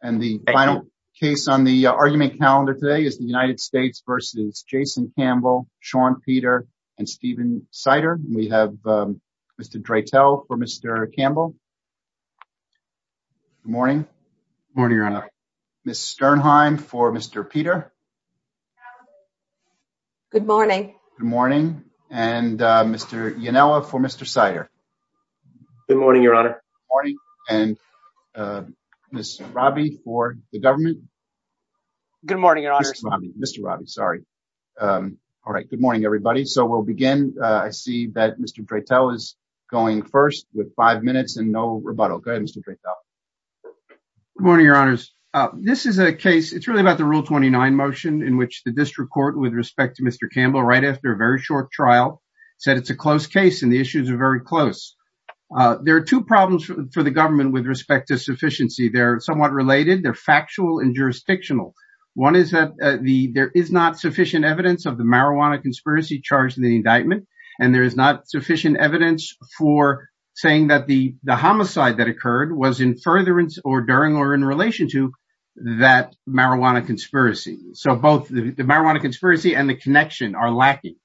And the final case on the argument calendar today is the United States v. Jason Campbell, Sean Peter, and Stephen Sider. We have Mr. Dreitel for Mr. Campbell. Good morning. Good morning, Your Honor. Ms. Sternheim for Mr. Peter. Good morning. Good morning. And Mr. Ionella for Mr. Sider. Good morning, Your Honor. Good morning. And Ms. Robby for the government. Good morning, Your Honor. Mr. Robby, sorry. All right. Good morning, everybody. So we'll begin. I see that Mr. Dreitel is going first with five minutes and no rebuttal. Go ahead, Mr. Dreitel. Good morning, Your Honors. This is a case, it's really about the Rule 29 motion in which the district court, with respect to Mr. Campbell, right after a very short trial, said it's a close. There are two problems for the government with respect to sufficiency. They're somewhat related. They're factual and jurisdictional. One is that there is not sufficient evidence of the marijuana conspiracy charged in the indictment, and there is not sufficient evidence for saying that the homicide that occurred was in furtherance or during or in relation to that marijuana conspiracy. So both the marijuana conspiracy and the connection are lacking.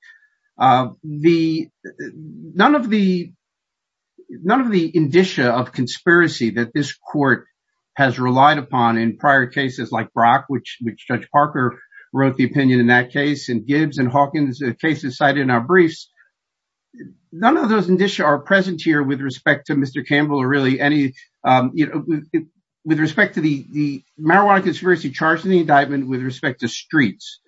None of the indicia of conspiracy that this court has relied upon in prior cases like Brock, which Judge Parker wrote the opinion in that case, and Gibbs and Hawkins cases cited in our briefs, none of those indicia are present here with respect to Mr. Campbell or really any, with respect to the marijuana conspiracy charged in the indictment with respect to streets.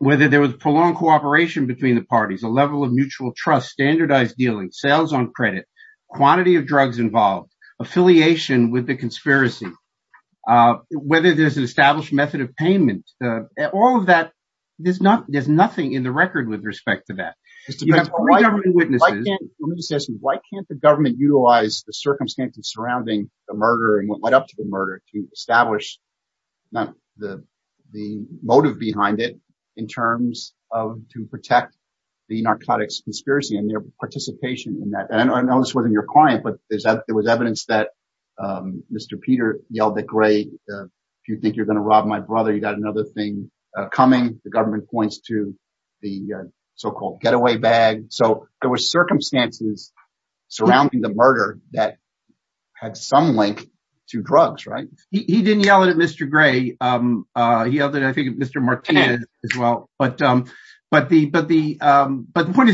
Whether there was prolonged cooperation between the parties, a level of mutual trust, standardized dealing, sales on credit, quantity of drugs involved, affiliation with the conspiracy, whether there's an established method of payment, all of that, there's nothing in the record with respect to that. Let me just ask you, why can't the government utilize the circumstances surrounding the murder and what led up to the murder to establish the motive behind it in terms of to protect the narcotics conspiracy and their participation in that? And I know this wasn't your client, but there was evidence that Mr. Peter yelled at Gray, if you think you're going to rob my brother, you got another thing coming. The government points to the so-called getaway bag. So there were circumstances surrounding the murder that had some link to drugs, right? He didn't yell at Mr. Gray. He yelled at, I think, Mr. Martinez as well. But the point is,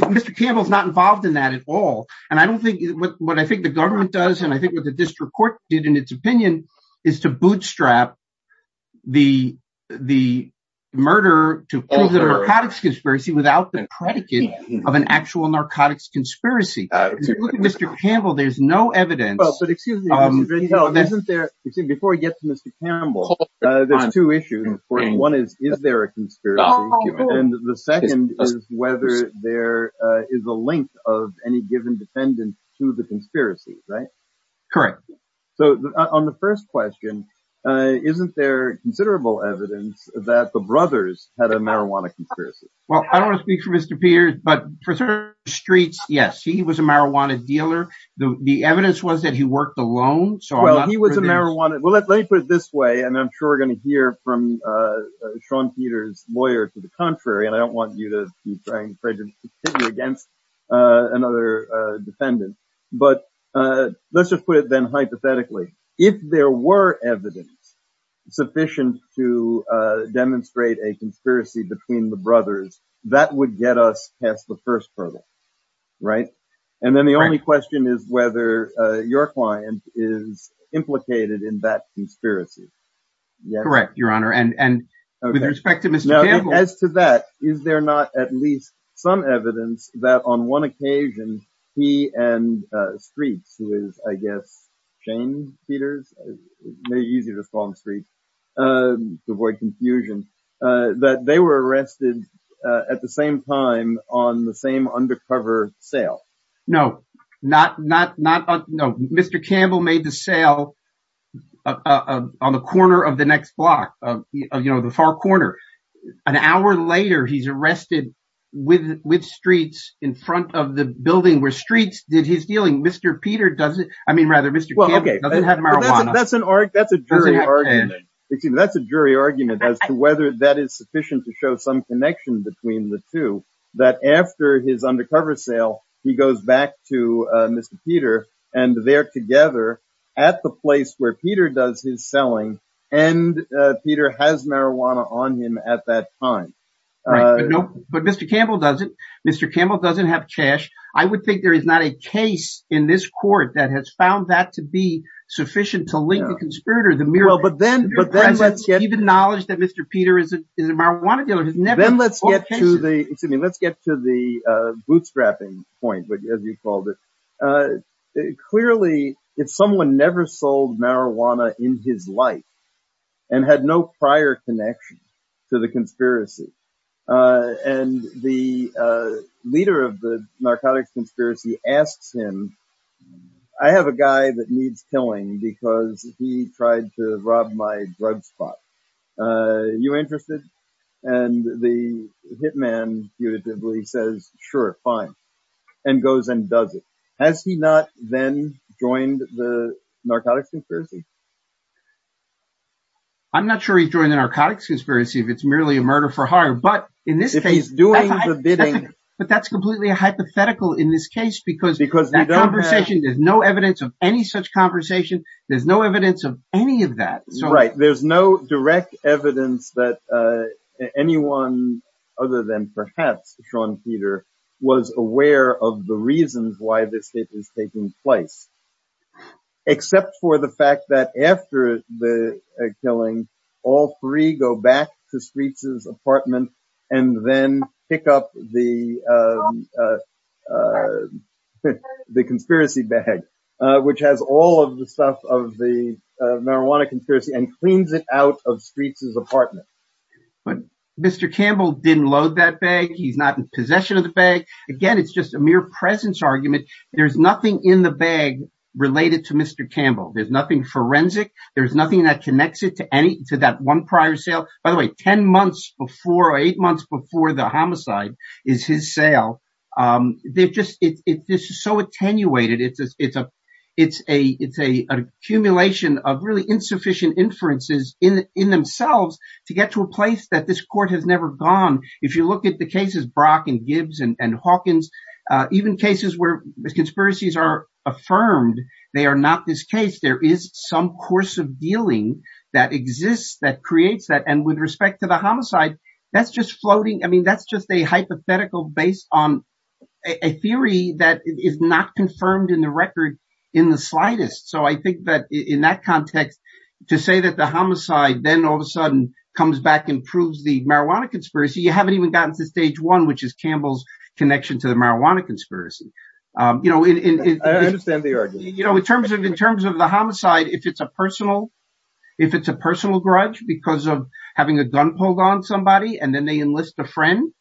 Mr. Campbell's not involved in that at all. And I don't think, what I think the government does, and I think what the district court did in its opinion, is to bootstrap the murder to prove the narcotics conspiracy without the predicate of an actual narcotics conspiracy. Mr. Campbell, there's no evidence. But excuse me, before we get to Mr. Campbell, there's two issues. One is, is there a conspiracy? And the second is whether there is a link of any given defendant to the conspiracy, right? Correct. So on the first question, isn't there considerable evidence that the brothers had a marijuana conspiracy? Well, I don't want to speak for Mr. Peters, but for certain streets, yes, he was a marijuana dealer. The evidence was that he worked alone. So he was a marijuana, well, let me put it this way. And I'm sure we're going to hear from Sean Peters' lawyer to the contrary. And I don't want you to be prejudiced against another defendant. But let's just put it then hypothetically, if there were evidence sufficient to demonstrate a conspiracy between the brothers, that would get us past the first problem, right? And then the only question is whether your client is implicated in that conspiracy. Correct, Your Honor. And with respect to Mr. Campbell. As to that, is there not at least some evidence that on one occasion, he and Streets, who is, I guess, Shane Peters, may use it as a strong street to avoid confusion, that they were arrested at the same time on the same undercover sale? No. Mr. Campbell made the sale on the corner of the next block, the far corner. An hour later, he's arrested with Streets in front of the building where Streets did his dealing. Mr. Campbell doesn't have marijuana. That's a jury argument as to whether that is sufficient to show some connection between the two. That after his undercover sale, he goes back to Mr. Peter, and they're together at the place where Peter does his selling. And Peter has marijuana on him at that time. But Mr. Campbell doesn't. Mr. Campbell doesn't have cash. I would think there is not a case in this court that has found that to be sufficient to link the conspirator, the mere presence, even knowledge that Mr. Peter is a marijuana dealer. Then let's get to the, excuse me, let's get to the bootstrapping point, as you called it. Clearly, if someone never sold marijuana in his life, and had no prior connection to the asks him, I have a guy that needs killing because he tried to rob my drug spot. You interested? And the hitman punitively says, Sure, fine, and goes and does it. Has he not then joined the narcotics conspiracy? I'm not sure he joined the narcotics conspiracy, if it's merely a murder for hire. But in this case, doing the bidding, but that's completely hypothetical in this case, because because the conversation, there's no evidence of any such conversation. There's no evidence of any of that. Right? There's no direct evidence that anyone other than perhaps Sean Peter was aware of the reasons why this is taking place. Except for the fact that after the killing, all three go back to Streets's apartment, and then pick up the conspiracy bag, which has all of the stuff of the marijuana conspiracy and cleans it out of Streets's apartment. But Mr. Campbell didn't load that bag. He's not in possession of the bag. Again, it's just a mere presence argument. There's nothing in the bag related to Mr. Campbell. There's nothing forensic. There's nothing that connects it to any to that one prior sale. By the way, 10 months before or eight months before the homicide is his sale. This is so attenuated. It's an accumulation of really insufficient inferences in themselves to get to a place that this court has never gone. If you look at the cases, Brock and Gibbs and Hawkins, even cases where conspiracies are affirmed, they are not this case. There is some course of dealing that exists that creates that. With respect to the homicide, that's just floating. That's just a hypothetical based on a theory that is not confirmed in the record in the slightest. I think that in that context, to say that the homicide then all of a sudden comes back and proves the marijuana conspiracy, you haven't even gotten to stage one, which is Campbell's connection to the marijuana conspiracy. I understand the argument. In terms of the homicide, if it's a personal grudge because of having a gun pulled on somebody and then they enlist a friend,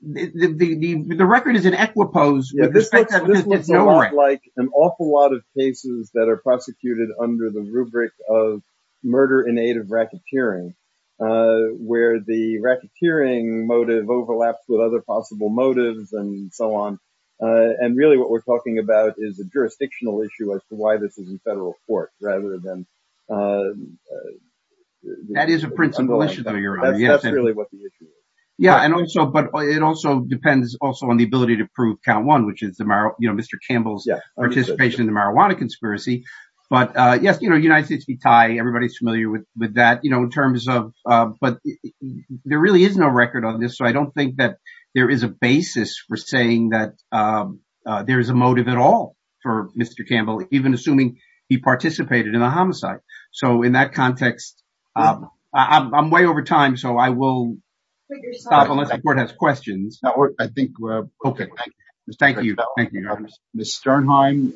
the record is in equipoise. This looks a lot like an awful lot of cases that are prosecuted under the rubric of murder in aid of racketeering, where the racketeering motive overlaps with other possible motives and so on. Really, what we're talking about is a jurisdictional issue as to why this is in federal court rather than... That is a principle issue though, Your Honor. That's really what the issue is. It also depends on the ability to prove count one, which is Mr. Campbell's participation in the marijuana conspiracy. Yes, United States v. Thai, everybody's familiar with that. There really is no record on this, so I don't think that there is a basis for saying that there is a motive at all for Mr. Campbell, even assuming he participated in the homicide. In that context, I'm way over time, so I will stop unless the court has questions. I think we're okay. Thank you, Your Honor. Ms. Sternheim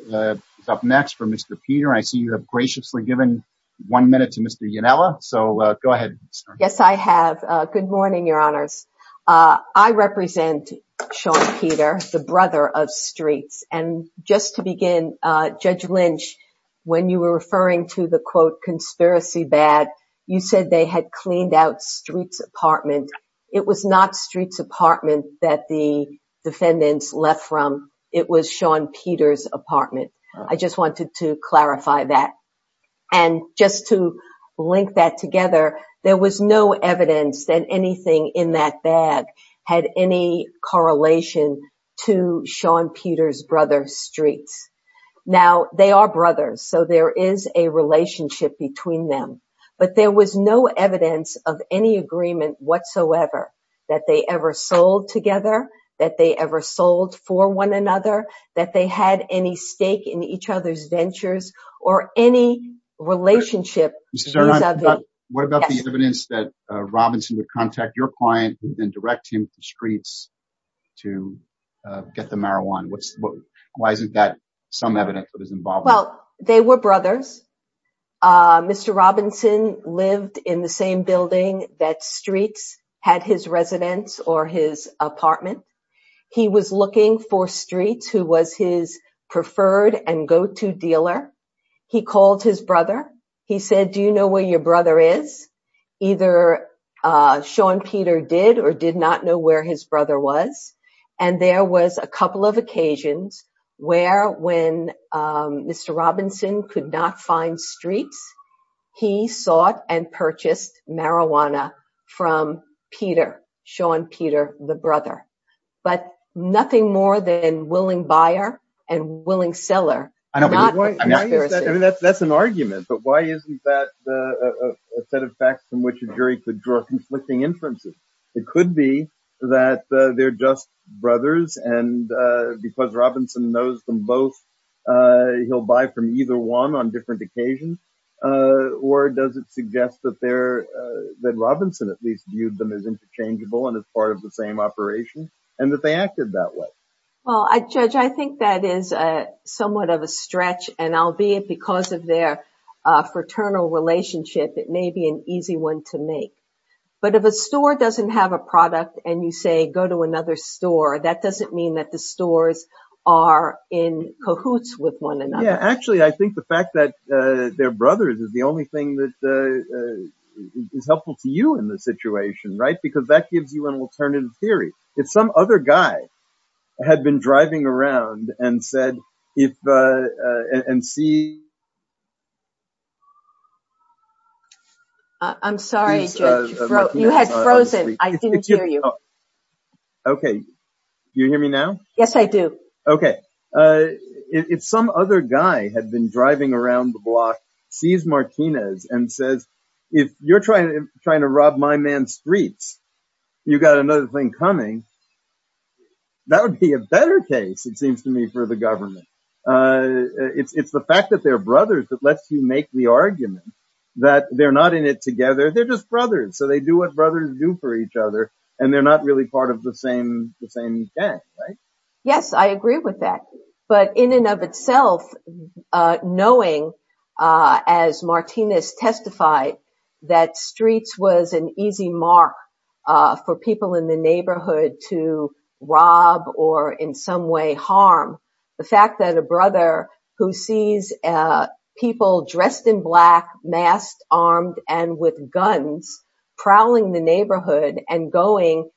is up next for Mr. Peter. I see you have graciously given one minute to Mr. Yanella, so go ahead, Ms. Sternheim. Yes, I have. Good morning, Your Honors. I represent Sean Peter, the brother of Streets. Just to begin, Judge Lynch, when you were referring to the, quote, conspiracy bad, you said they had cleaned out Streets' apartment. It was not Streets' apartment that the defendants left from. It was Sean Peter's apartment. I just wanted to clarify that. Just to link that together, there was no evidence that anything in that bag had any correlation to Sean Peter's brother, Streets. Now, they are brothers, so there is a relationship between them, but there was no evidence of any agreement whatsoever that they ever sold together, that they ever sold for one another, that they had any stake in each other's ventures or any relationship. Ms. Sternheim, what about the evidence that Robinson would contact your client and then direct him to Streets to get the marijuana? Why isn't that some evidence of his involvement? Well, they were brothers. Mr. Robinson lived in the same building that Streets had his residence or his apartment. He was looking for Streets, who was his preferred and go-to dealer. He called his brother. He said, do you know where your brother is? Either Sean Peter did or did not know where his brother was. And there was a couple of marijuana from Peter, Sean Peter, the brother. But nothing more than willing buyer and willing seller. That's an argument. But why isn't that a set of facts from which a jury could draw conflicting inferences? It could be that they're just brothers and because Robinson knows them both, he'll buy from either one on different occasions. Or does it suggest that they're, that Robinson at least viewed them as interchangeable and as part of the same operation and that they acted that way? Well, Judge, I think that is somewhat of a stretch. And albeit because of their fraternal relationship, it may be an easy one to make. But if a store doesn't have a product and you say, go to another store, that doesn't mean that the stores are in cahoots with one another. Yeah, actually, I think the fact that they're brothers is the only thing that is helpful to you in this situation, right? Because that gives you an alternative theory. If some other guy had been driving around and said, if, and see... I'm sorry, Judge, you had frozen. I didn't hear you. Oh, okay. Do you hear me now? Yes, I do. Okay. If some other guy had been driving around the block, sees Martinez and says, if you're trying to rob my man's streets, you got another thing coming. That would be a better case, it seems to me, for the government. It's the fact that they're brothers that lets you make the argument that they're not in it together. They're just brothers. So they do what brothers do for each other. And they're not really part of the same gang, right? Yes, I agree with that. But in and of itself, knowing, as Martinez testified, that streets was an easy mark for people in the neighborhood to rob or in some way harm. The fact that a brother who sees people dressed in black, masked, armed, and with guns prowling the neighborhood and going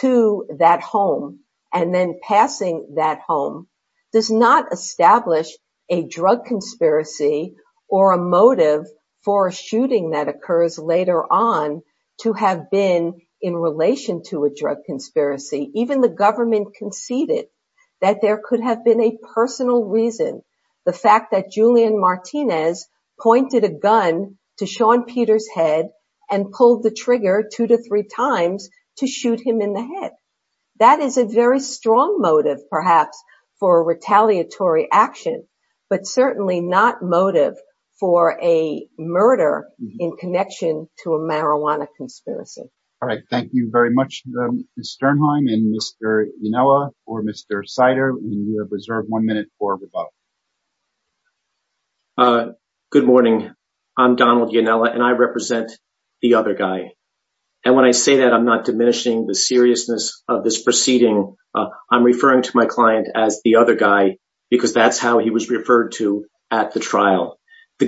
to that home and then passing that home does not establish a drug conspiracy or a motive for a shooting that occurs later on to have been in relation to a drug conspiracy. Even the government conceded that there could have been a personal reason, the fact that Julian Martinez pointed a gun to Sean Peter's head and pulled the trigger two to three times to shoot him in the head. That is a very strong motive, perhaps, for retaliatory action, but certainly not motive for a murder in connection to a marijuana conspiracy. All right. Thank you very much, Ms. Sternheim and Mr. Ionella or Mr. Sider. We have reserved one minute for rebuttal. Good morning. I'm Donald Ionella and I represent the other guy. And when I say that, I'm not diminishing the seriousness of this proceeding. I'm referring to my client as the other guy because that's how he was referred to at the trial. The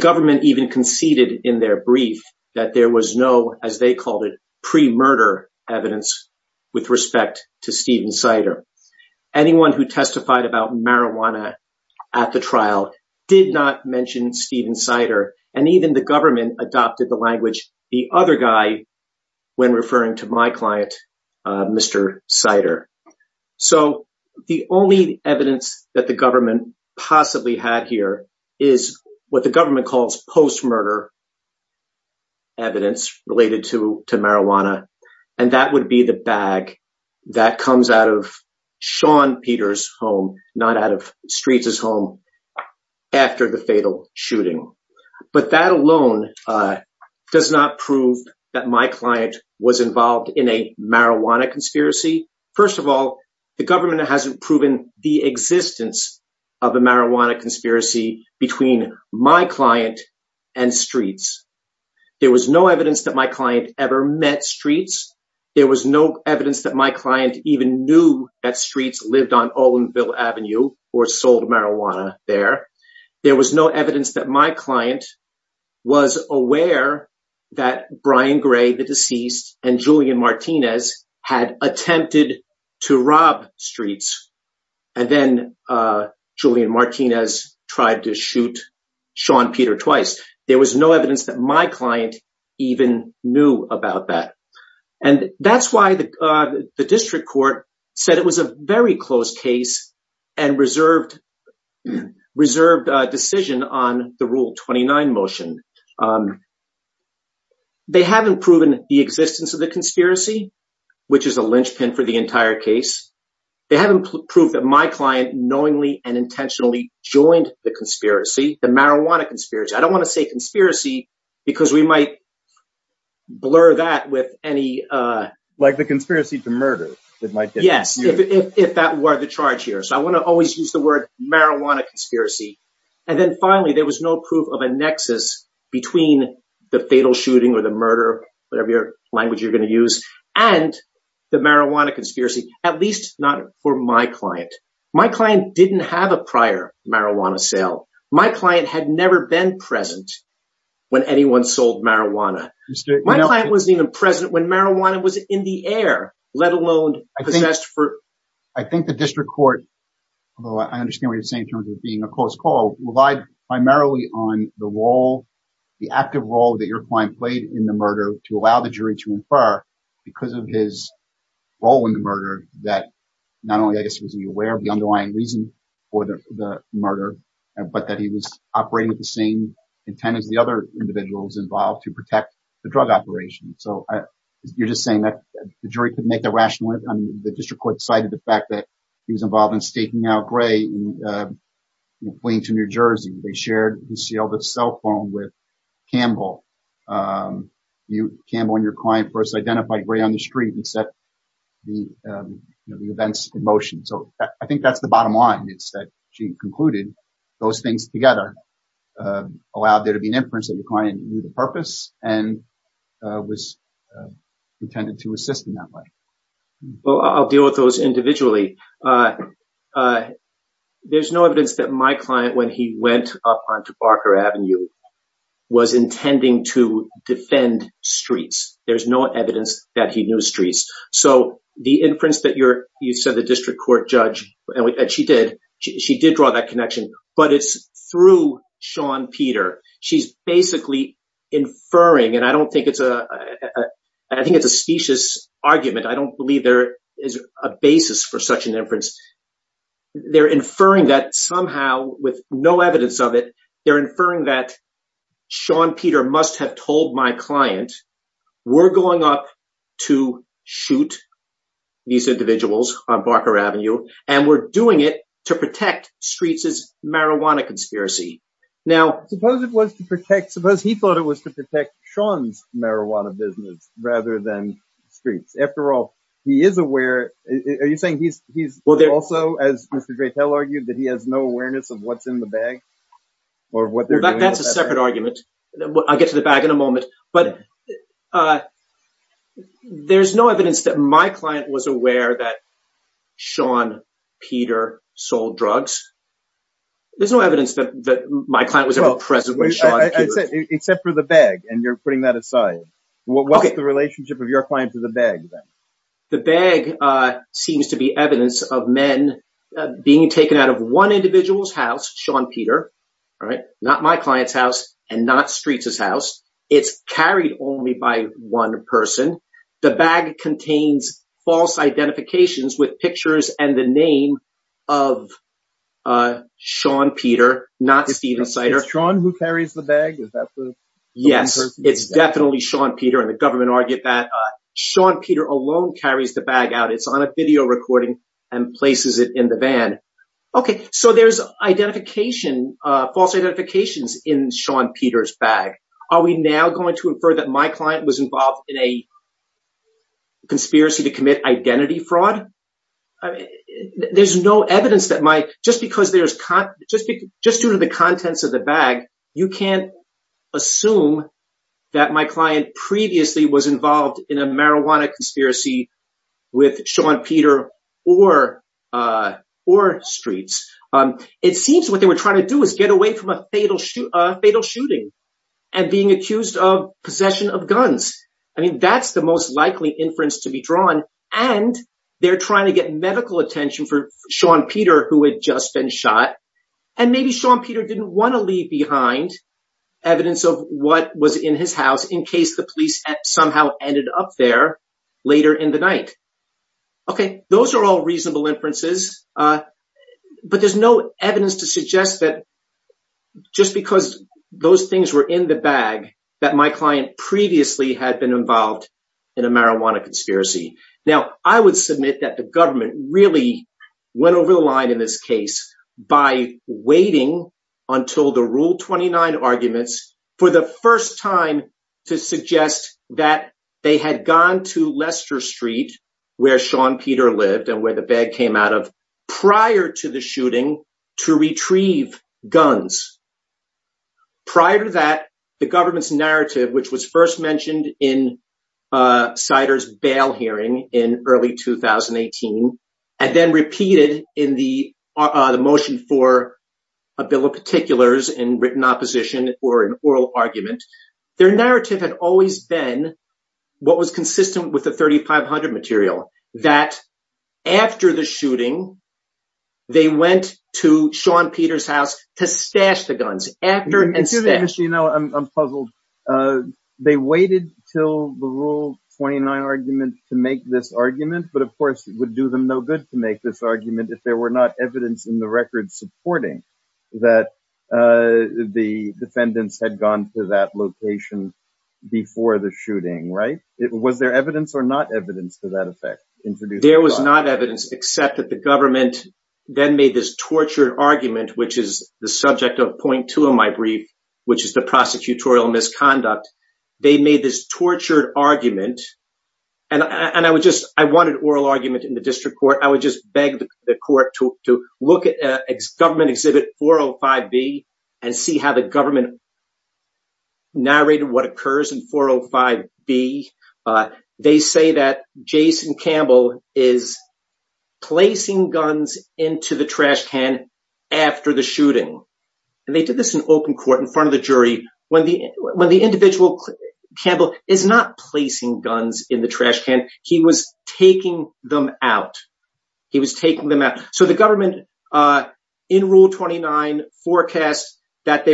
only evidence that the government possibly had here is what the government calls post-murder evidence related to marijuana. And that would be the bag that comes out of Sean Peter's home, not out of Streets' home, after the fatal shooting. But that alone does not prove that my client was involved in a marijuana conspiracy. First of all, the government hasn't proven the existence of a marijuana conspiracy between my client and Streets. There was no evidence that my client ever met Streets. There was no evidence that my client even knew that Streets lived on Olinville Avenue or sold marijuana there. There was no evidence that my client was aware that Brian Gray, the deceased, and Julian Martinez had attempted to rob Streets. And then Julian Martinez tried to shoot Sean Peter twice. There was no evidence that my client even knew about that. And that's why the district court said it was a very close case and reserved decision on the Rule 29 motion. They haven't proven the existence of the conspiracy, which is a linchpin for the entire case. They haven't proved that my client knowingly and intentionally joined the conspiracy, the marijuana conspiracy. I don't want to say conspiracy because we might blur that with any... if that were the charge here. So I want to always use the word marijuana conspiracy. And then finally, there was no proof of a nexus between the fatal shooting or the murder, whatever language you're going to use, and the marijuana conspiracy, at least not for my client. My client didn't have a prior marijuana sale. My client had never been present when anyone sold marijuana. My client wasn't even present when marijuana was in the air, let alone possessed for... I think the district court, although I understand what you're saying in terms of being a close call, relied primarily on the role, the active role that your client played in the murder to allow the jury to infer because of his role in the murder that not only, I guess, was he aware of the underlying reason for the murder, but that he was operating with the same intent as the other individuals involved to protect the drug operation. So you're just saying that the jury couldn't make the rational... the district court decided the fact that he was involved in staking out Gray in Plainton, New Jersey. They shared the cell phone with Campbell. Campbell and your client first identified Gray on the street and set the events in motion. So I think that's the bottom line. It's that she concluded those things together allowed there to be an inference that the client knew the purpose and was intended to assist in that way. Well, I'll deal with those individually. There's no evidence that my client, when he went up onto Barker Avenue, was intending to defend streets. There's no evidence that he knew streets. So the inference that you said the district court judge, and she did, she did draw that connection, but it's through Shawn Peter. She's basically inferring, and I don't think it's a... I think it's a specious argument. I don't believe there is a basis for such an inference. They're inferring that somehow with no evidence of it, they're inferring that Shawn Peter must have told my client, we're going up to shoot these individuals on Barker Avenue, and we're doing it to protect Streets' marijuana conspiracy. Suppose he thought it was to protect Shawn's marijuana business rather than Streets. After all, he is aware. Are you saying he's also, as Mr. Gretel argued, that he has no awareness of what's in the bag? That's a separate argument. I'll get to the bag in a moment. But there's no evidence that Shawn Peter sold drugs. There's no evidence that my client was ever present with Shawn Peter. Except for the bag, and you're putting that aside. What's the relationship of your client to the bag then? The bag seems to be evidence of men being taken out of one individual's house, Shawn Peter, not my client's house and not Streets' house. It's carried only by one person. The bag contains false identifications with pictures and the name of Shawn Peter, not Steven Sider. Is it Shawn who carries the bag? Yes, it's definitely Shawn Peter, and the government argued that Shawn Peter alone carries the bag out. It's on a video recording and places it in the van. So there's false identifications in Shawn Peter's bag. Are we now going to infer that my client was involved in a conspiracy to commit identity fraud? Just due to the contents of the bag, you can't assume that my client previously was involved in a marijuana conspiracy with Shawn Peter or Streets. It seems what they were trying to do is get away from a fatal shooting and being accused of possession of guns. I mean, that's the most likely inference to be drawn, and they're trying to get medical attention for Shawn Peter, who had just been shot. And maybe Shawn Peter didn't want to leave behind evidence of what was in his house in case the police somehow ended up there later in the night. Okay, those are all reasonable inferences, but there's no evidence to suggest that just because those things were in the bag that my client previously had been involved in a marijuana conspiracy. Now, I would submit that the government really went over the line in this case by waiting until the Rule 29 arguments for the first time to suggest that they had gone to Leicester Street, where Shawn Peter lived and where the bag came out of, prior to the guns. Prior to that, the government's narrative, which was first mentioned in Sider's bail hearing in early 2018, and then repeated in the motion for a bill of particulars in written opposition or an oral argument, their narrative had always been what was consistent with the 3500 material, that after the shooting, they went to Shawn Peter's house to stash the guns. I'm puzzled. They waited till the Rule 29 argument to make this argument, but of course, it would do them no good to make this argument if there were not evidence in the record supporting that the defendants had gone to that location before the shooting, right? Was there evidence or not evidence to that effect? There was not evidence except that the government then made this tortured argument, which is the subject of point two of my brief, which is the prosecutorial misconduct. They made this tortured argument, and I wanted oral argument in the district court. I would just beg the court to look at government exhibit 405B and see how the Jason Campbell is placing guns into the trash can after the shooting. They did this in open court in front of the jury. When the individual, Campbell, is not placing guns in the trash can, he was taking them out. He was taking them out. The government in Rule 29 forecasts that they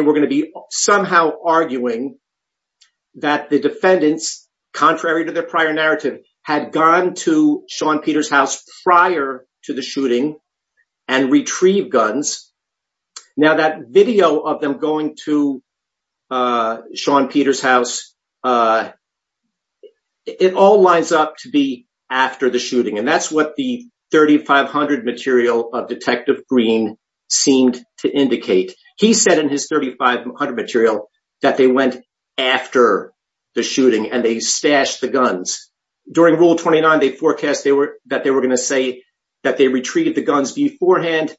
had gone to Sean Peter's house prior to the shooting and retrieved guns. Now, that video of them going to Sean Peter's house, it all lines up to be after the shooting, and that's what the 3500 material of Detective Green seemed to indicate. He said in his 3500 material that they went after the shooting and they stashed the guns. During Rule 29, they forecast that they were going to say that they retrieved the guns beforehand,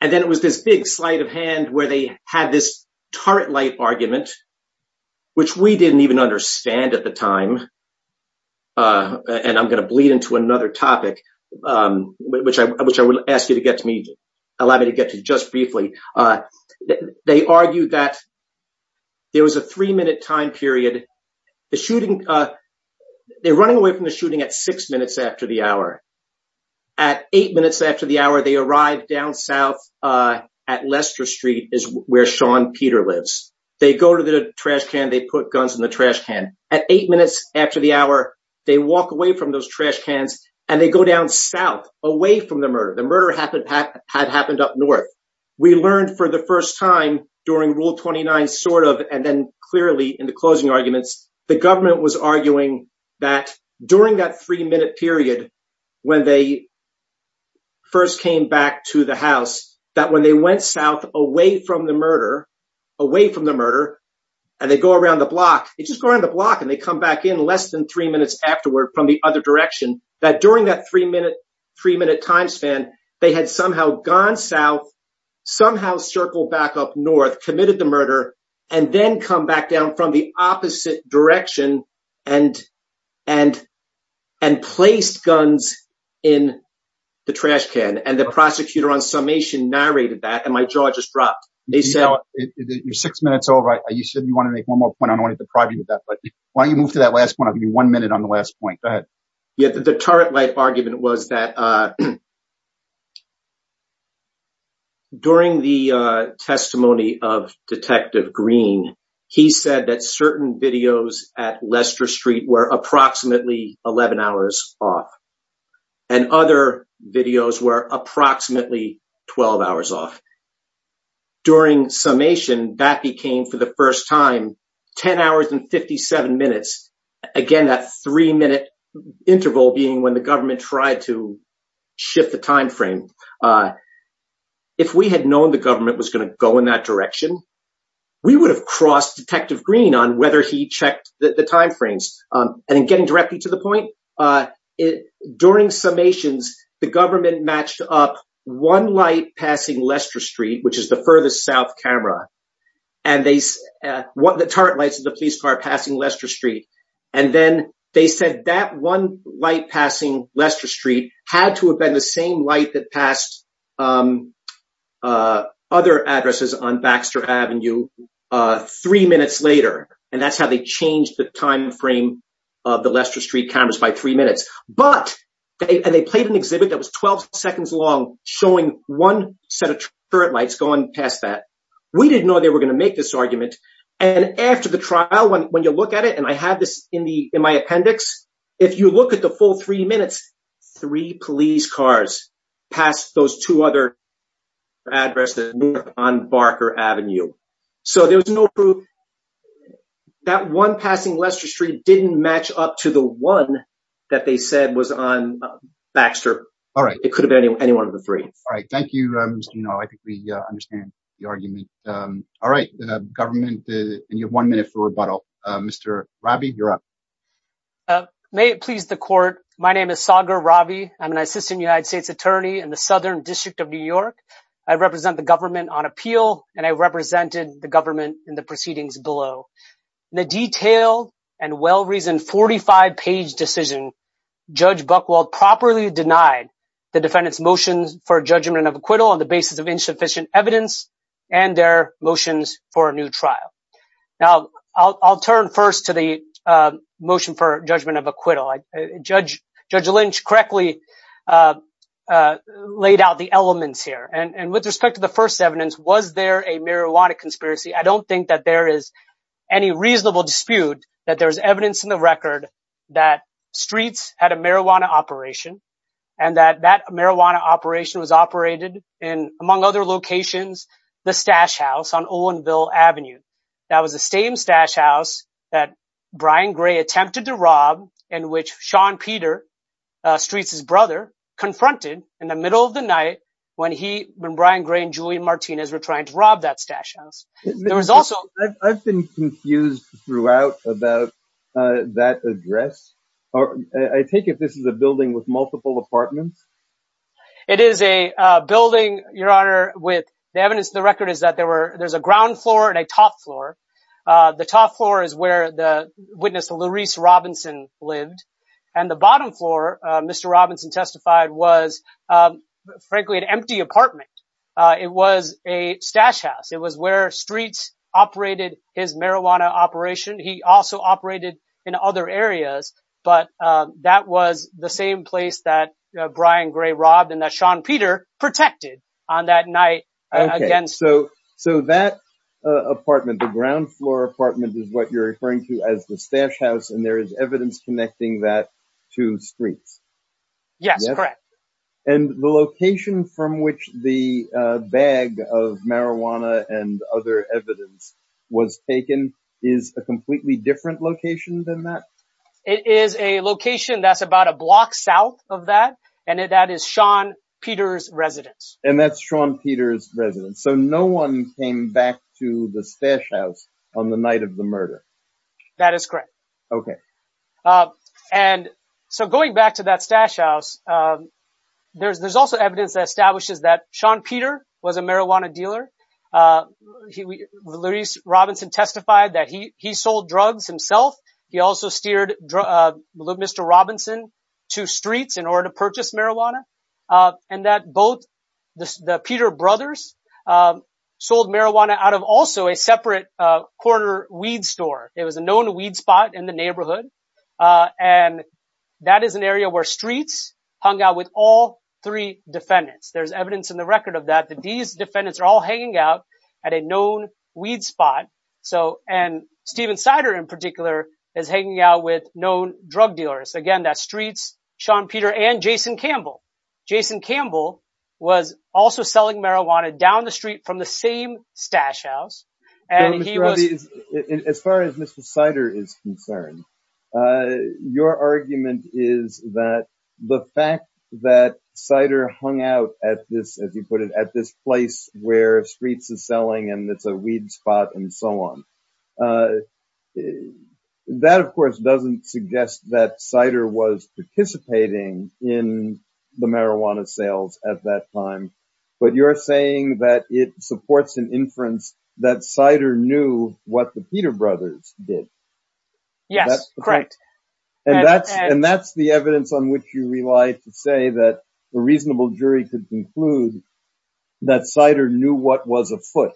and then it was this big sleight of hand where they had this turret light argument, which we didn't even understand at the time. I'm going to bleed into another topic, which I will ask you to allow me to get to just briefly. They argued that there was a three-minute time period. They're running away from the shooting at six minutes after the hour. At eight minutes after the hour, they arrive down south at Lester Street, where Sean Peter lives. They go to the trash can. They put guns in the trash can. At eight minutes after the hour, they walk away from those trash cans and they go down south, away from the murder. The murder had happened up north. We learned for the first time during Rule 29, sort of, and then clearly in the closing arguments, the government was arguing that during that three-minute period, when they first came back to the house, that when they went south, away from the murder, and they go around the block, they just go around the block and they come back in less than three minutes afterward from the other direction, that during that three-minute time span, they had somehow gone south, somehow circled back up north, committed the murder, and then come back down from the opposite direction and placed guns in the trash can. The prosecutor on summation narrated that, and my jaw just dropped. You're six minutes over. You said you wanted to make one more point. I don't want to deprive you of that, but why don't you move to that last point? I'll give you one minute on the last point. Go ahead. Yeah, the turret light argument was that during the testimony of Detective Green, he said that certain videos at Lester Street were summations. That became, for the first time, 10 hours and 57 minutes. Again, that three-minute interval being when the government tried to shift the time frame. If we had known the government was going to go in that direction, we would have crossed Detective Green on whether he checked the time frames. In getting directly to the point, during summations, the government matched up one passing Lester Street, which is the furthest south camera, and the turret lights of the police car passing Lester Street. Then they said that one light passing Lester Street had to have been the same light that passed other addresses on Baxter Avenue three minutes later. That's how they changed the time frame of the Lester Street cameras by three minutes. But they played an exhibit that was 12 seconds long showing one set of turret lights going past that. We didn't know they were going to make this argument. After the trial, when you look at it, and I have this in my appendix, if you look at the full three minutes, three police cars passed those two other addresses on Barker Avenue. So there was no proof that one passing Lester Street didn't match up to the one that they said was on Baxter. It could have been any one of the three. All right. Thank you. I think we understand the argument. All right. Government, you have one minute for rebuttal. Mr. Ravi, you're up. May it please the court. My name is Sagar Ravi. I'm an assistant United States attorney in the Southern District of New York. I represent the government on appeal, and I represented the government in the proceedings below. The detailed and well-reasoned 45-page decision, Judge Buchwald properly denied the defendant's motions for judgment of acquittal on the basis of insufficient evidence and their motions for a new trial. Now, I'll turn first to the motion for judgment of acquittal. Judge Lynch correctly laid out the elements here. And with respect to the first evidence, was there a any reasonable dispute that there was evidence in the record that Streets had a marijuana operation and that that marijuana operation was operated in, among other locations, the stash house on Olinville Avenue? That was the same stash house that Brian Gray attempted to rob and which Sean Peter, Streets' brother, confronted in the middle of the night when he, when Brian Gray and Julian I've been confused throughout about that address. I take it this is a building with multiple apartments? It is a building, Your Honor, with the evidence of the record is that there were, there's a ground floor and a top floor. The top floor is where the witness, Laurice Robinson, lived. And the bottom floor, Mr. Robinson testified, was frankly an empty apartment. It was a stash house. It was where Streets operated his marijuana operation. He also operated in other areas, but that was the same place that Brian Gray robbed and that Sean Peter protected on that night. So that apartment, the ground floor apartment is what you're referring to as the stash house. And there is evidence connecting that to Streets. Yes, correct. And the location from which the bag of marijuana and other evidence was taken is a completely different location than that? It is a location that's about a block south of that. And that is Sean Peter's residence. And that's Sean Peter's residence. So no one came back to the stash house on the night of the murder. That is correct. Okay. And so going back to that stash house, there's also evidence that establishes that Sean Peter was a marijuana dealer. Laurice Robinson testified that he sold drugs himself. He also steered Mr. Robinson to Streets in order to purchase marijuana. And that both the Peter brothers sold marijuana out of also a separate corner weed store. It was a known weed spot in the neighborhood. And that is an area where three defendants, there's evidence in the record of that, that these defendants are all hanging out at a known weed spot. So, and Stephen Sider, in particular, is hanging out with known drug dealers. Again, that Streets, Sean Peter and Jason Campbell. Jason Campbell was also selling marijuana down the street from the same stash house. As far as Mr. Sider is concerned, your argument is that the fact that Sider hung out at this, as you put it, at this place where Streets is selling and it's a weed spot and so on. That of course doesn't suggest that Sider was participating in the marijuana sales at that time. But you're saying that it supports an inference that Sider knew what the Peter brothers did. And that's the evidence on which you rely to say that a reasonable jury could conclude that Sider knew what was afoot.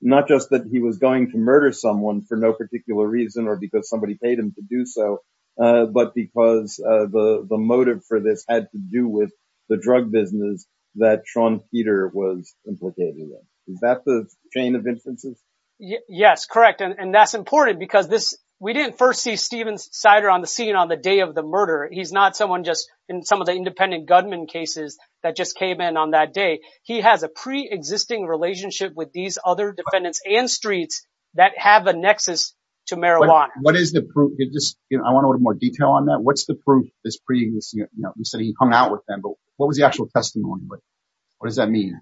Not just that he was going to murder someone for no particular reason or because somebody paid him to do so, but because the motive for this had to do with the drug business that Sean Peter was implicated in. Is that the chain of inferences? Yes, correct. And that's important because this, we didn't first see Stephen Sider on the scene on the day of the murder. He's not someone just in some of the independent gunman cases that just came in on that day. He has a pre-existing relationship with these other defendants and Streets that have a nexus to marijuana. What is the proof? I want a little more detail on that. What's the proof this previous, you said he hung out with them, but what was the actual testimony? What does that mean?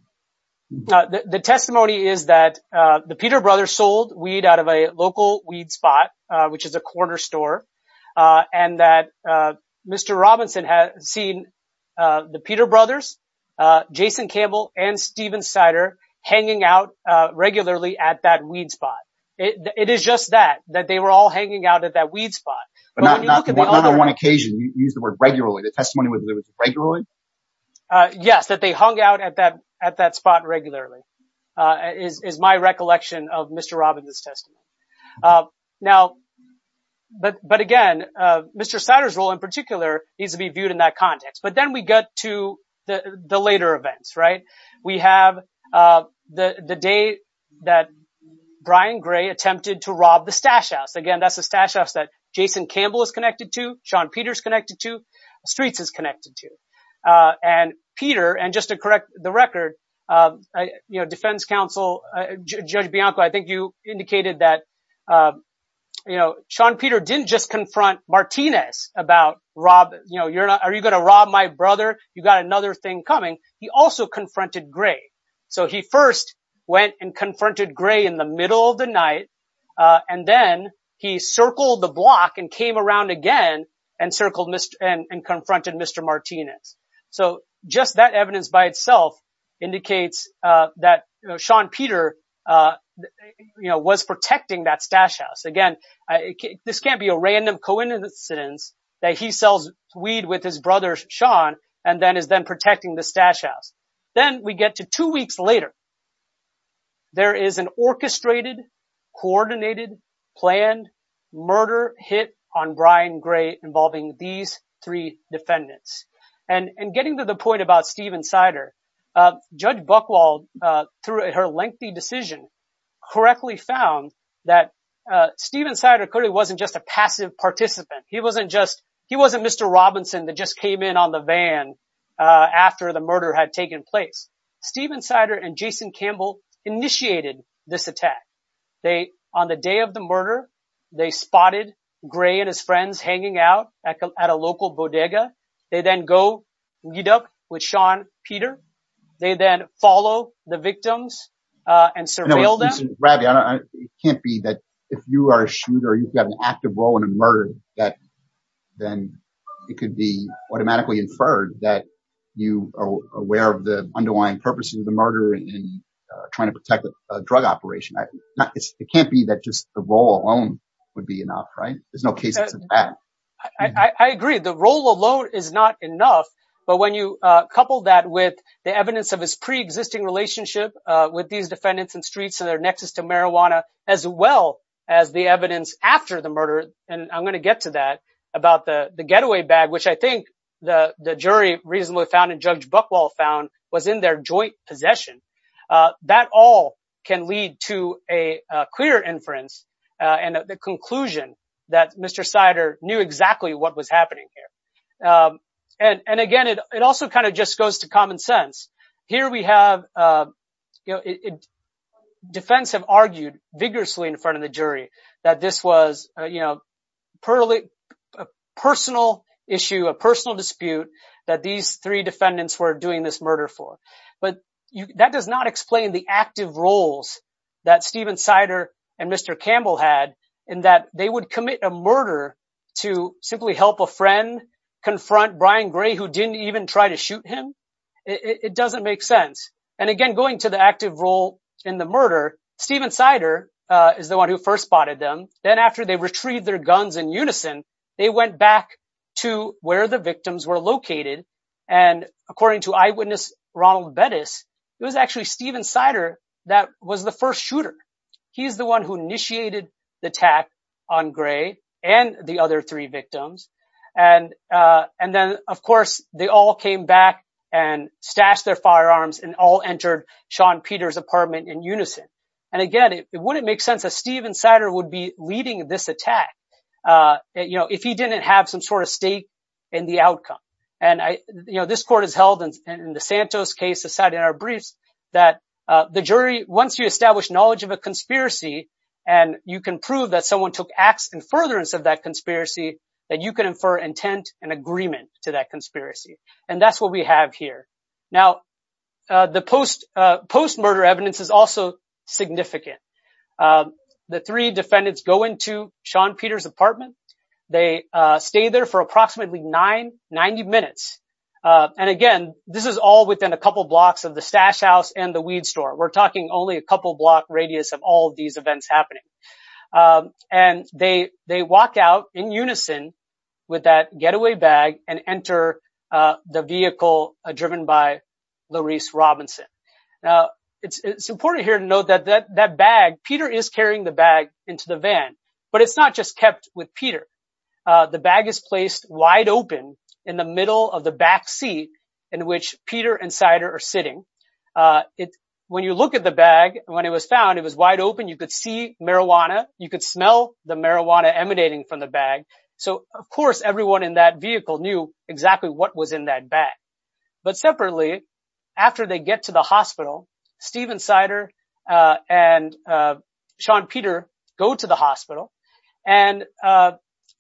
The testimony is that the Peter brothers sold weed out of a local weed spot, which is a corner store. And that Mr. Robinson had seen the Peter brothers, Jason Campbell and Stephen Sider hanging out regularly at that weed spot. It is just that, that they were all hanging out at that weed spot. But not on one occasion, you used the word regularly, the testimony was regularly? Uh, yes, that they hung out at that, at that spot regularly, uh, is, is my recollection of Mr. Robinson's testimony. Uh, now, but, but again, uh, Mr. Sider's role in particular needs to be viewed in that context, but then we get to the later events, right? We have, uh, the, the day that Brian Gray attempted to rob the stash house. Again, that's a stash house that Jason Campbell is connected to, Sean Peter's connected to, Streets is connected to. Uh, and Peter, and just to correct the record, uh, you know, defense counsel, uh, Judge Bianco, I think you indicated that, um, you know, Sean Peter didn't just confront Martinez about Rob, you know, you're not, are you going to rob my brother? You got another thing coming. He also confronted Gray. So he first went and confronted Gray in the middle of the night. Uh, and then he circled the block and came around again and circled Mr. and confronted Mr. Martinez. So just that evidence by itself indicates, uh, that Sean Peter, uh, you know, was protecting that stash house. Again, this can't be a random coincidence that he sells weed with his brother, Sean, and then is then protecting the stash house. Then we get to two weeks later, there is an orchestrated, coordinated, planned murder hit on Brian Gray involving these three defendants and getting to the point about Stephen Sider. Uh, Judge Buchwald, uh, through her lengthy decision correctly found that, uh, Stephen Sider clearly wasn't just a passive participant. He wasn't just, he wasn't Mr. Robinson that just came in on the van, uh, after the murder had taken place. Stephen Sider and they spotted Gray and his friends hanging out at a local bodega. They then go meet up with Sean Peter. They then follow the victims, uh, and surveil them. It can't be that if you are a shooter, you have an active role in a murder that then it could be automatically inferred that you are aware of the underlying purposes of the murder and trying to protect a drug operation. It can't be that just the role alone would be enough, right? There's no cases of that. I agree. The role alone is not enough, but when you, uh, couple that with the evidence of his preexisting relationship, uh, with these defendants and streets and their nexus to marijuana, as well as the evidence after the murder. And I'm going to get to that about the getaway bag, which I think the jury reasonably found in Judge Buchwald found was in their joint possession. Uh, that all can to a clear inference. Uh, and the conclusion that Mr Sider knew exactly what was happening here. Um, and, and again, it, it also kind of just goes to common sense here. We have, uh, you know, defense have argued vigorously in front of the jury that this was, uh, you know, personal issue, a personal dispute that these three defendants were doing this murder for. But that does not explain the active roles that Stephen Sider and Mr. Campbell had in that they would commit a murder to simply help a friend confront Brian Gray, who didn't even try to shoot him. It doesn't make sense. And again, going to the active role in the murder, Stephen Sider, uh, is the one who first spotted them. Then after they retrieved their guns in unison, they went back to where the victims were located. And according to eyewitness Ronald Bettis, it was actually Stephen Sider. That was the first shooter. He's the one who initiated the attack on Gray and the other three victims. And, uh, and then of course they all came back and stashed their firearms and all entered Sean Peter's apartment in unison. And again, it wouldn't make sense that Stephen Sider would be leading this attack, uh, you know, if he didn't have some sort of stake in the outcome. And I, you know, this court has held in the Santos case aside in our briefs that, uh, the jury, once you establish knowledge of a conspiracy and you can prove that someone took acts in furtherance of that conspiracy, that you can infer intent and agreement to that conspiracy. And that's what we have here. Now, uh, the post, uh, post murder evidence is also significant. Um, the three defendants go into Sean Peter's apartment. They, uh, stay there for approximately nine, 90 minutes. Uh, and again, this is all within a couple blocks of the stash house and the weed store. We're talking only a couple block radius of all of these events happening. Um, and they, they walked out in unison with that getaway bag and enter, uh, the vehicle driven by the Reese Robinson. Now it's, it's important here to note that that, that bag, Peter is carrying the bag into the van, but it's not just kept with Peter. Uh, the bag is placed wide open in the middle of the back seat in which Peter and Sider are sitting. Uh, it, when you look at the bag, when it was found, it was wide open. You could see marijuana. You could smell the marijuana emanating from the bag. So of course, everyone in that vehicle knew exactly what was in that bag, but separately after they get to the hospital, Stephen Sider, uh, and, uh, Sean Peter go to the hospital and, uh,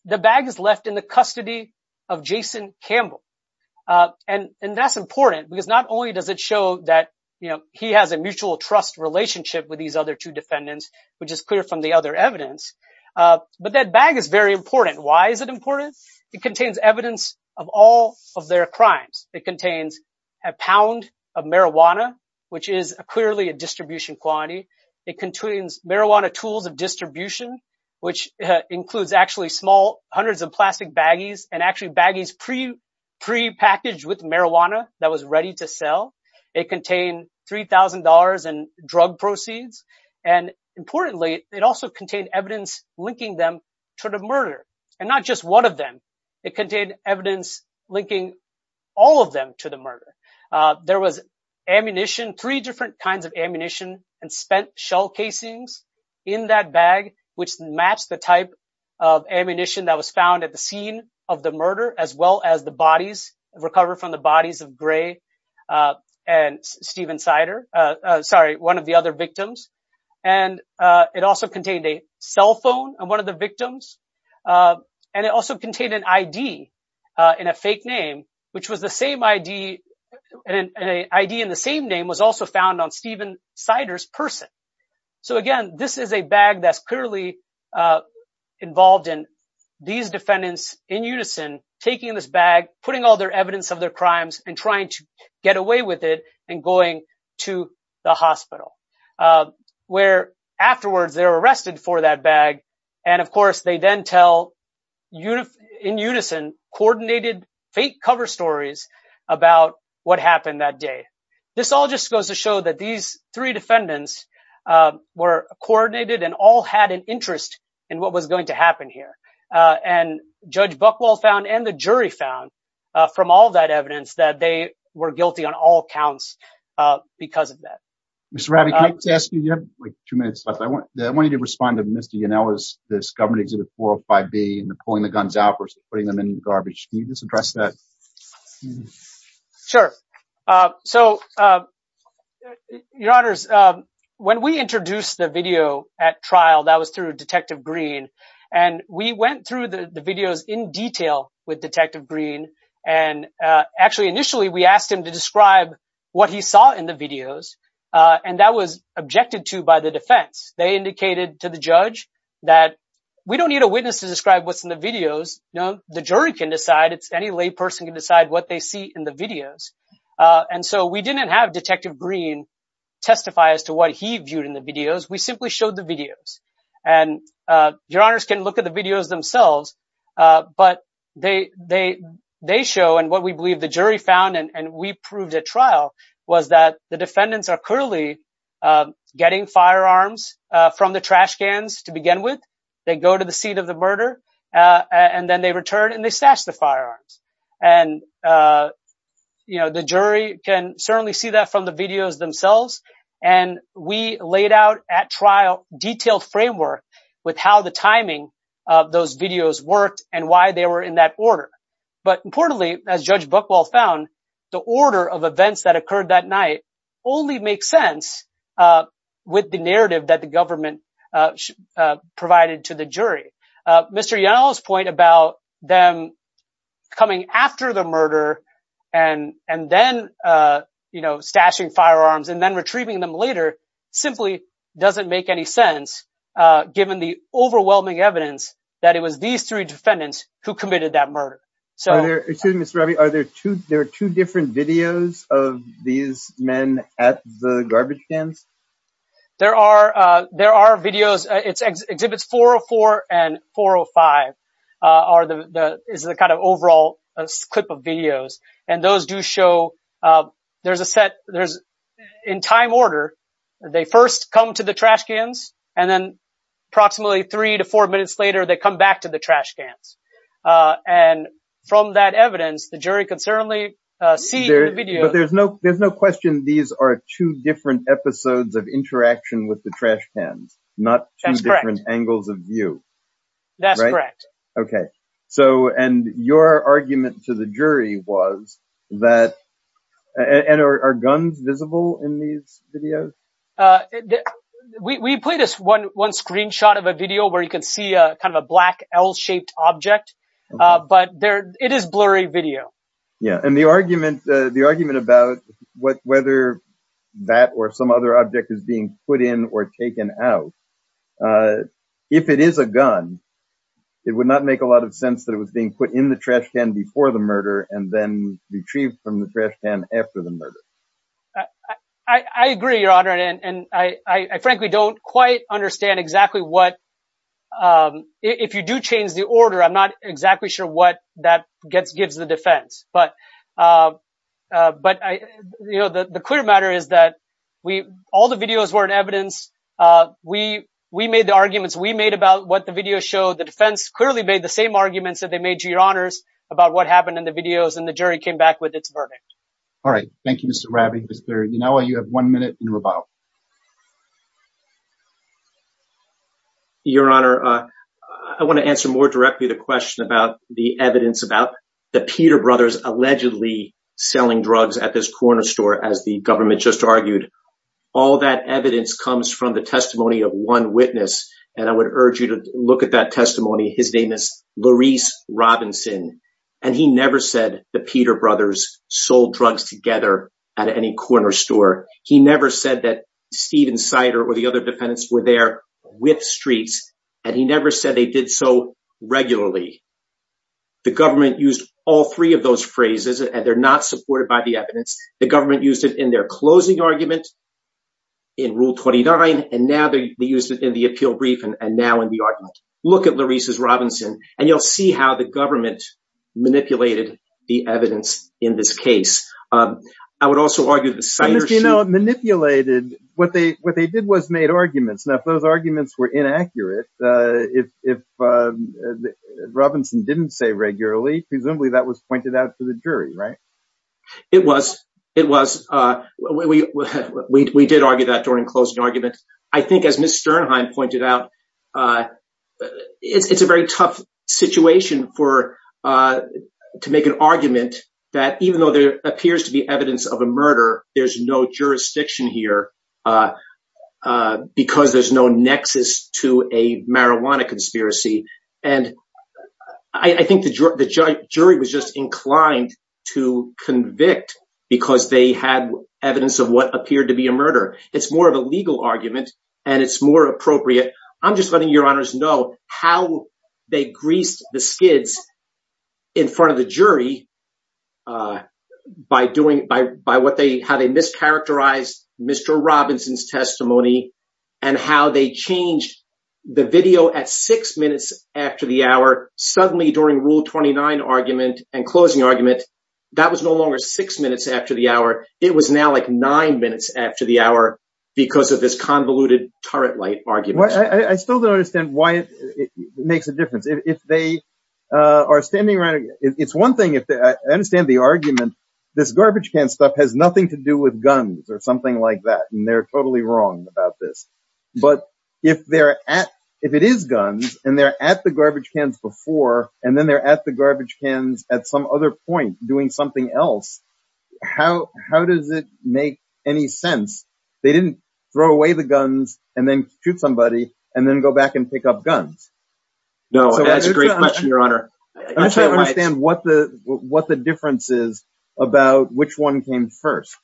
the bag is left in the custody of Jason Campbell. Uh, and, and that's important because not only does it show that, you know, he has a evidence, uh, but that bag is very important. Why is it important? It contains evidence of all of their crimes. It contains a pound of marijuana, which is clearly a distribution quantity. It contains marijuana tools of distribution, which includes actually small hundreds of plastic baggies and actually baggies pre pre-packaged with marijuana that was ready to sell. It contained $3,000 in drug proceeds. And importantly, it also contained evidence linking them to the murder and not just one of them. It contained evidence linking all of them to the murder. Uh, there was ammunition, three different kinds of ammunition and spent shell casings in that bag, which matched the type of ammunition that was found at the scene of the murder, as well as the bodies recover from the bodies of gray, uh, and Steven cider, uh, sorry, one of the other victims. And, uh, it also contained a cell phone and one of the victims, uh, and it also contained an ID, uh, in a fake name, which was the same ID and an ID in the same name was also found on Steven cider's person. So again, this is a bag that's clearly, uh, involved in these defendants in evidence of their crimes and trying to get away with it and going to the hospital, uh, where afterwards they're arrested for that bag. And of course they then tell you in unison coordinated fake cover stories about what happened that day. This all just goes to show that these three defendants, uh, were coordinated and all had an interest in what was going to happen here. Uh, and judge Buckwell found and the jury found, uh, from all of that evidence that they were guilty on all counts, uh, because of that. Mr. Rabbi, can I just ask you, you have like two minutes left. I want you to respond to Mr. Yanella's, this government exhibit 405B and pulling the guns out versus putting them in the garbage. Can you just address that? Sure. Uh, so, uh, your honors, um, when we introduced the video at trial, that was through the, the videos in detail with detective green. And, uh, actually initially we asked him to describe what he saw in the videos. Uh, and that was objected to by the defense. They indicated to the judge that we don't need a witness to describe what's in the videos. No, the jury can decide it's any lay person can decide what they see in the videos. Uh, and so we didn't have detective green testify as to what he viewed in the videos. We simply showed the videos and, uh, your honors can look at the videos themselves. Uh, but they, they, they show and what we believe the jury found and we proved at trial was that the defendants are clearly, uh, getting firearms, uh, from the trash cans to begin with. They go to the seat of the murder, uh, and then they return and they stash the firearms. And, uh, you know, the jury can certainly see that from the videos and we laid out at trial detailed framework with how the timing of those videos worked and why they were in that order. But importantly, as judge Buchwald found the order of events that occurred that night only makes sense, uh, with the narrative that the government, uh, uh, provided to the jury. Uh, Mr. Young's point about them coming after the murder and, and then, uh, you know, stashing firearms and then retrieving them later simply doesn't make any sense, uh, given the overwhelming evidence that it was these three defendants who committed that murder. So there are two, there are two different videos of these men at the garbage cans. There are, uh, there are videos, it's exhibits 404 and 405, uh, are the, the is the kind of overall clip of videos. And those do show, uh, there's a set there's in time order, they first come to the trash cans and then approximately three to four minutes later, they come back to the trash cans. Uh, and from that evidence, the jury can certainly, uh, see the video. But there's no, there's no question. These are two different episodes of interaction with the trash cans, not two different angles of view. That's correct. Okay. So, and your argument to the jury was that, and are guns visible in these videos? Uh, we, we played us one, one screenshot of a video where you can see a kind of a black L shaped object. Uh, but there, it is blurry video. Yeah. And the argument, uh, the argument about what, whether that or some other object is being put in or taken out, uh, if it is a gun, it would not make a lot of sense that it was being put in the trash can before the murder and then retrieved from the trash can after the murder. I agree, your honor. And, and I, I frankly don't quite understand exactly what, um, if you do change the order, I'm not exactly sure what that gets, gives the defense, but, uh, uh, but I, you know, the, the clear matter is that we, all the videos were in evidence. Uh, we, we made the arguments we made about what the video showed. The defense clearly made the same arguments that they made to your honors about what happened in the videos. And the jury came back with its verdict. All right. Thank you, Mr. Ravi. Mr. Inouye, you have one minute in rebuttal. Your honor. Uh, I want to answer more directly the question about the evidence about the Peter brothers allegedly selling drugs at this corner store. As the government just argued, all that evidence comes from the testimony of one witness. And I would urge you to look at that testimony. His name is Laurice Robinson. And he never said the Peter brothers sold drugs together at any corner store. He never said that Steven Sider or the other defendants were there with streets. And he never said they did so regularly. The government used all three of those phrases and they're not supported by the evidence. The government used it in their closing argument in rule 29. And now they used it in the appeal brief. And now in the argument, look at Laurice's Robinson and you'll see how the government manipulated the evidence in this case. Um, I would also argue that you know, it manipulated what they, what they did was made arguments. And if those arguments were inaccurate, uh, if, if, uh, Robinson didn't say regularly, presumably that was pointed out to the jury, right? It was, it was, uh, we, we, we, pointed out, uh, it's, it's a very tough situation for, uh, to make an argument that even though there appears to be evidence of a murder, there's no jurisdiction here, uh, uh, because there's no nexus to a marijuana conspiracy. And I think the jury was just inclined to convict because they had evidence of what appeared to be a murder. It's more of a legal argument and it's more appropriate. I'm just letting your honors know how they greased the skids in front of the jury, uh, by doing, by, by what they, how they mischaracterized Mr. Robinson's testimony and how they changed the video at six minutes after the hour, suddenly during rule 29 argument and closing argument, that was no longer six minutes after the hour. It was now like nine minutes after the hour because of this convoluted turret light argument. I still don't understand why it makes a difference if they, uh, are standing around. It's one thing if I understand the argument, this garbage can stuff has nothing to do with guns or something like that. And they're totally wrong about this, but if they're at, if it is guns and they're at the garbage cans before, and then they're at the garbage cans at some other point doing something else, how, how does it make any sense? They didn't throw away the guns and then shoot somebody and then go back and pick up guns. No, that's a great question, your honor. What the, what the difference is about which one came first.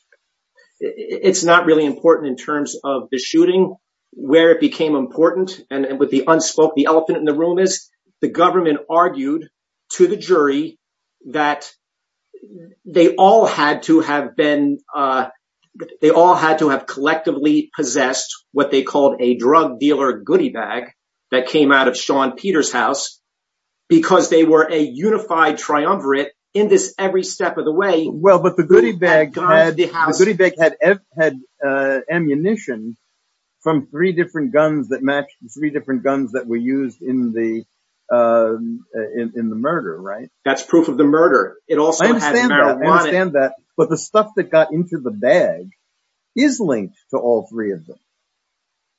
It's not really important in terms of the shooting, where it became important. And with the unspoke, the elephant in the room is the government argued to the jury that they all had to have been, uh, they all had to have collectively possessed what they called a drug dealer goodie bag that came out of Sean Peter's house because they were a unified triumvirate in this every step of the way. Well, but the goodie bag had, uh, ammunition from three different guns that matched three different guns that were used in the, uh, in, in the murder, right? That's proof of the murder. It also had marijuana. I understand that, but the stuff that got into the bag is linked to all three of them.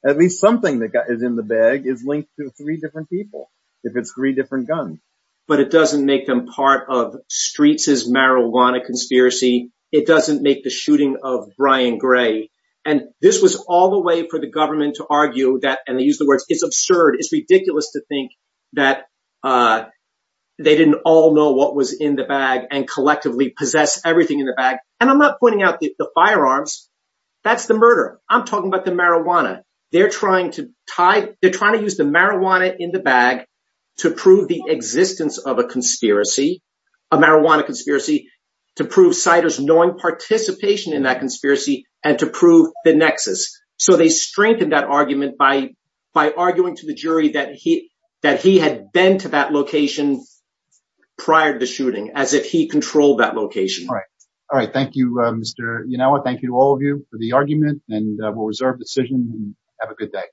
At least something that got is in the bag is linked to three different people. If it's three different guns. But it doesn't make them part of Streets' marijuana conspiracy. It doesn't make the shooting of Brian Gray. And this was all the way for the government to argue that, and they use the words, it's absurd. It's ridiculous to think that, uh, they didn't all know what was in the bag and collectively possess everything in the bag. And I'm not pointing out the firearms. That's the murder. I'm talking about the marijuana. They're trying to tie. They're trying to use the marijuana in the bag to prove the existence of a conspiracy, a marijuana conspiracy to prove siters, knowing participation in that conspiracy and to prove the nexus. So they strengthened that argument by, by arguing to the jury that he, that he had been to that location prior to the shooting as if he controlled that location. All right. All right. Thank you, Mr. Yanawa. Thank you to all of you for the argument and we'll reserve decision. Have a good day.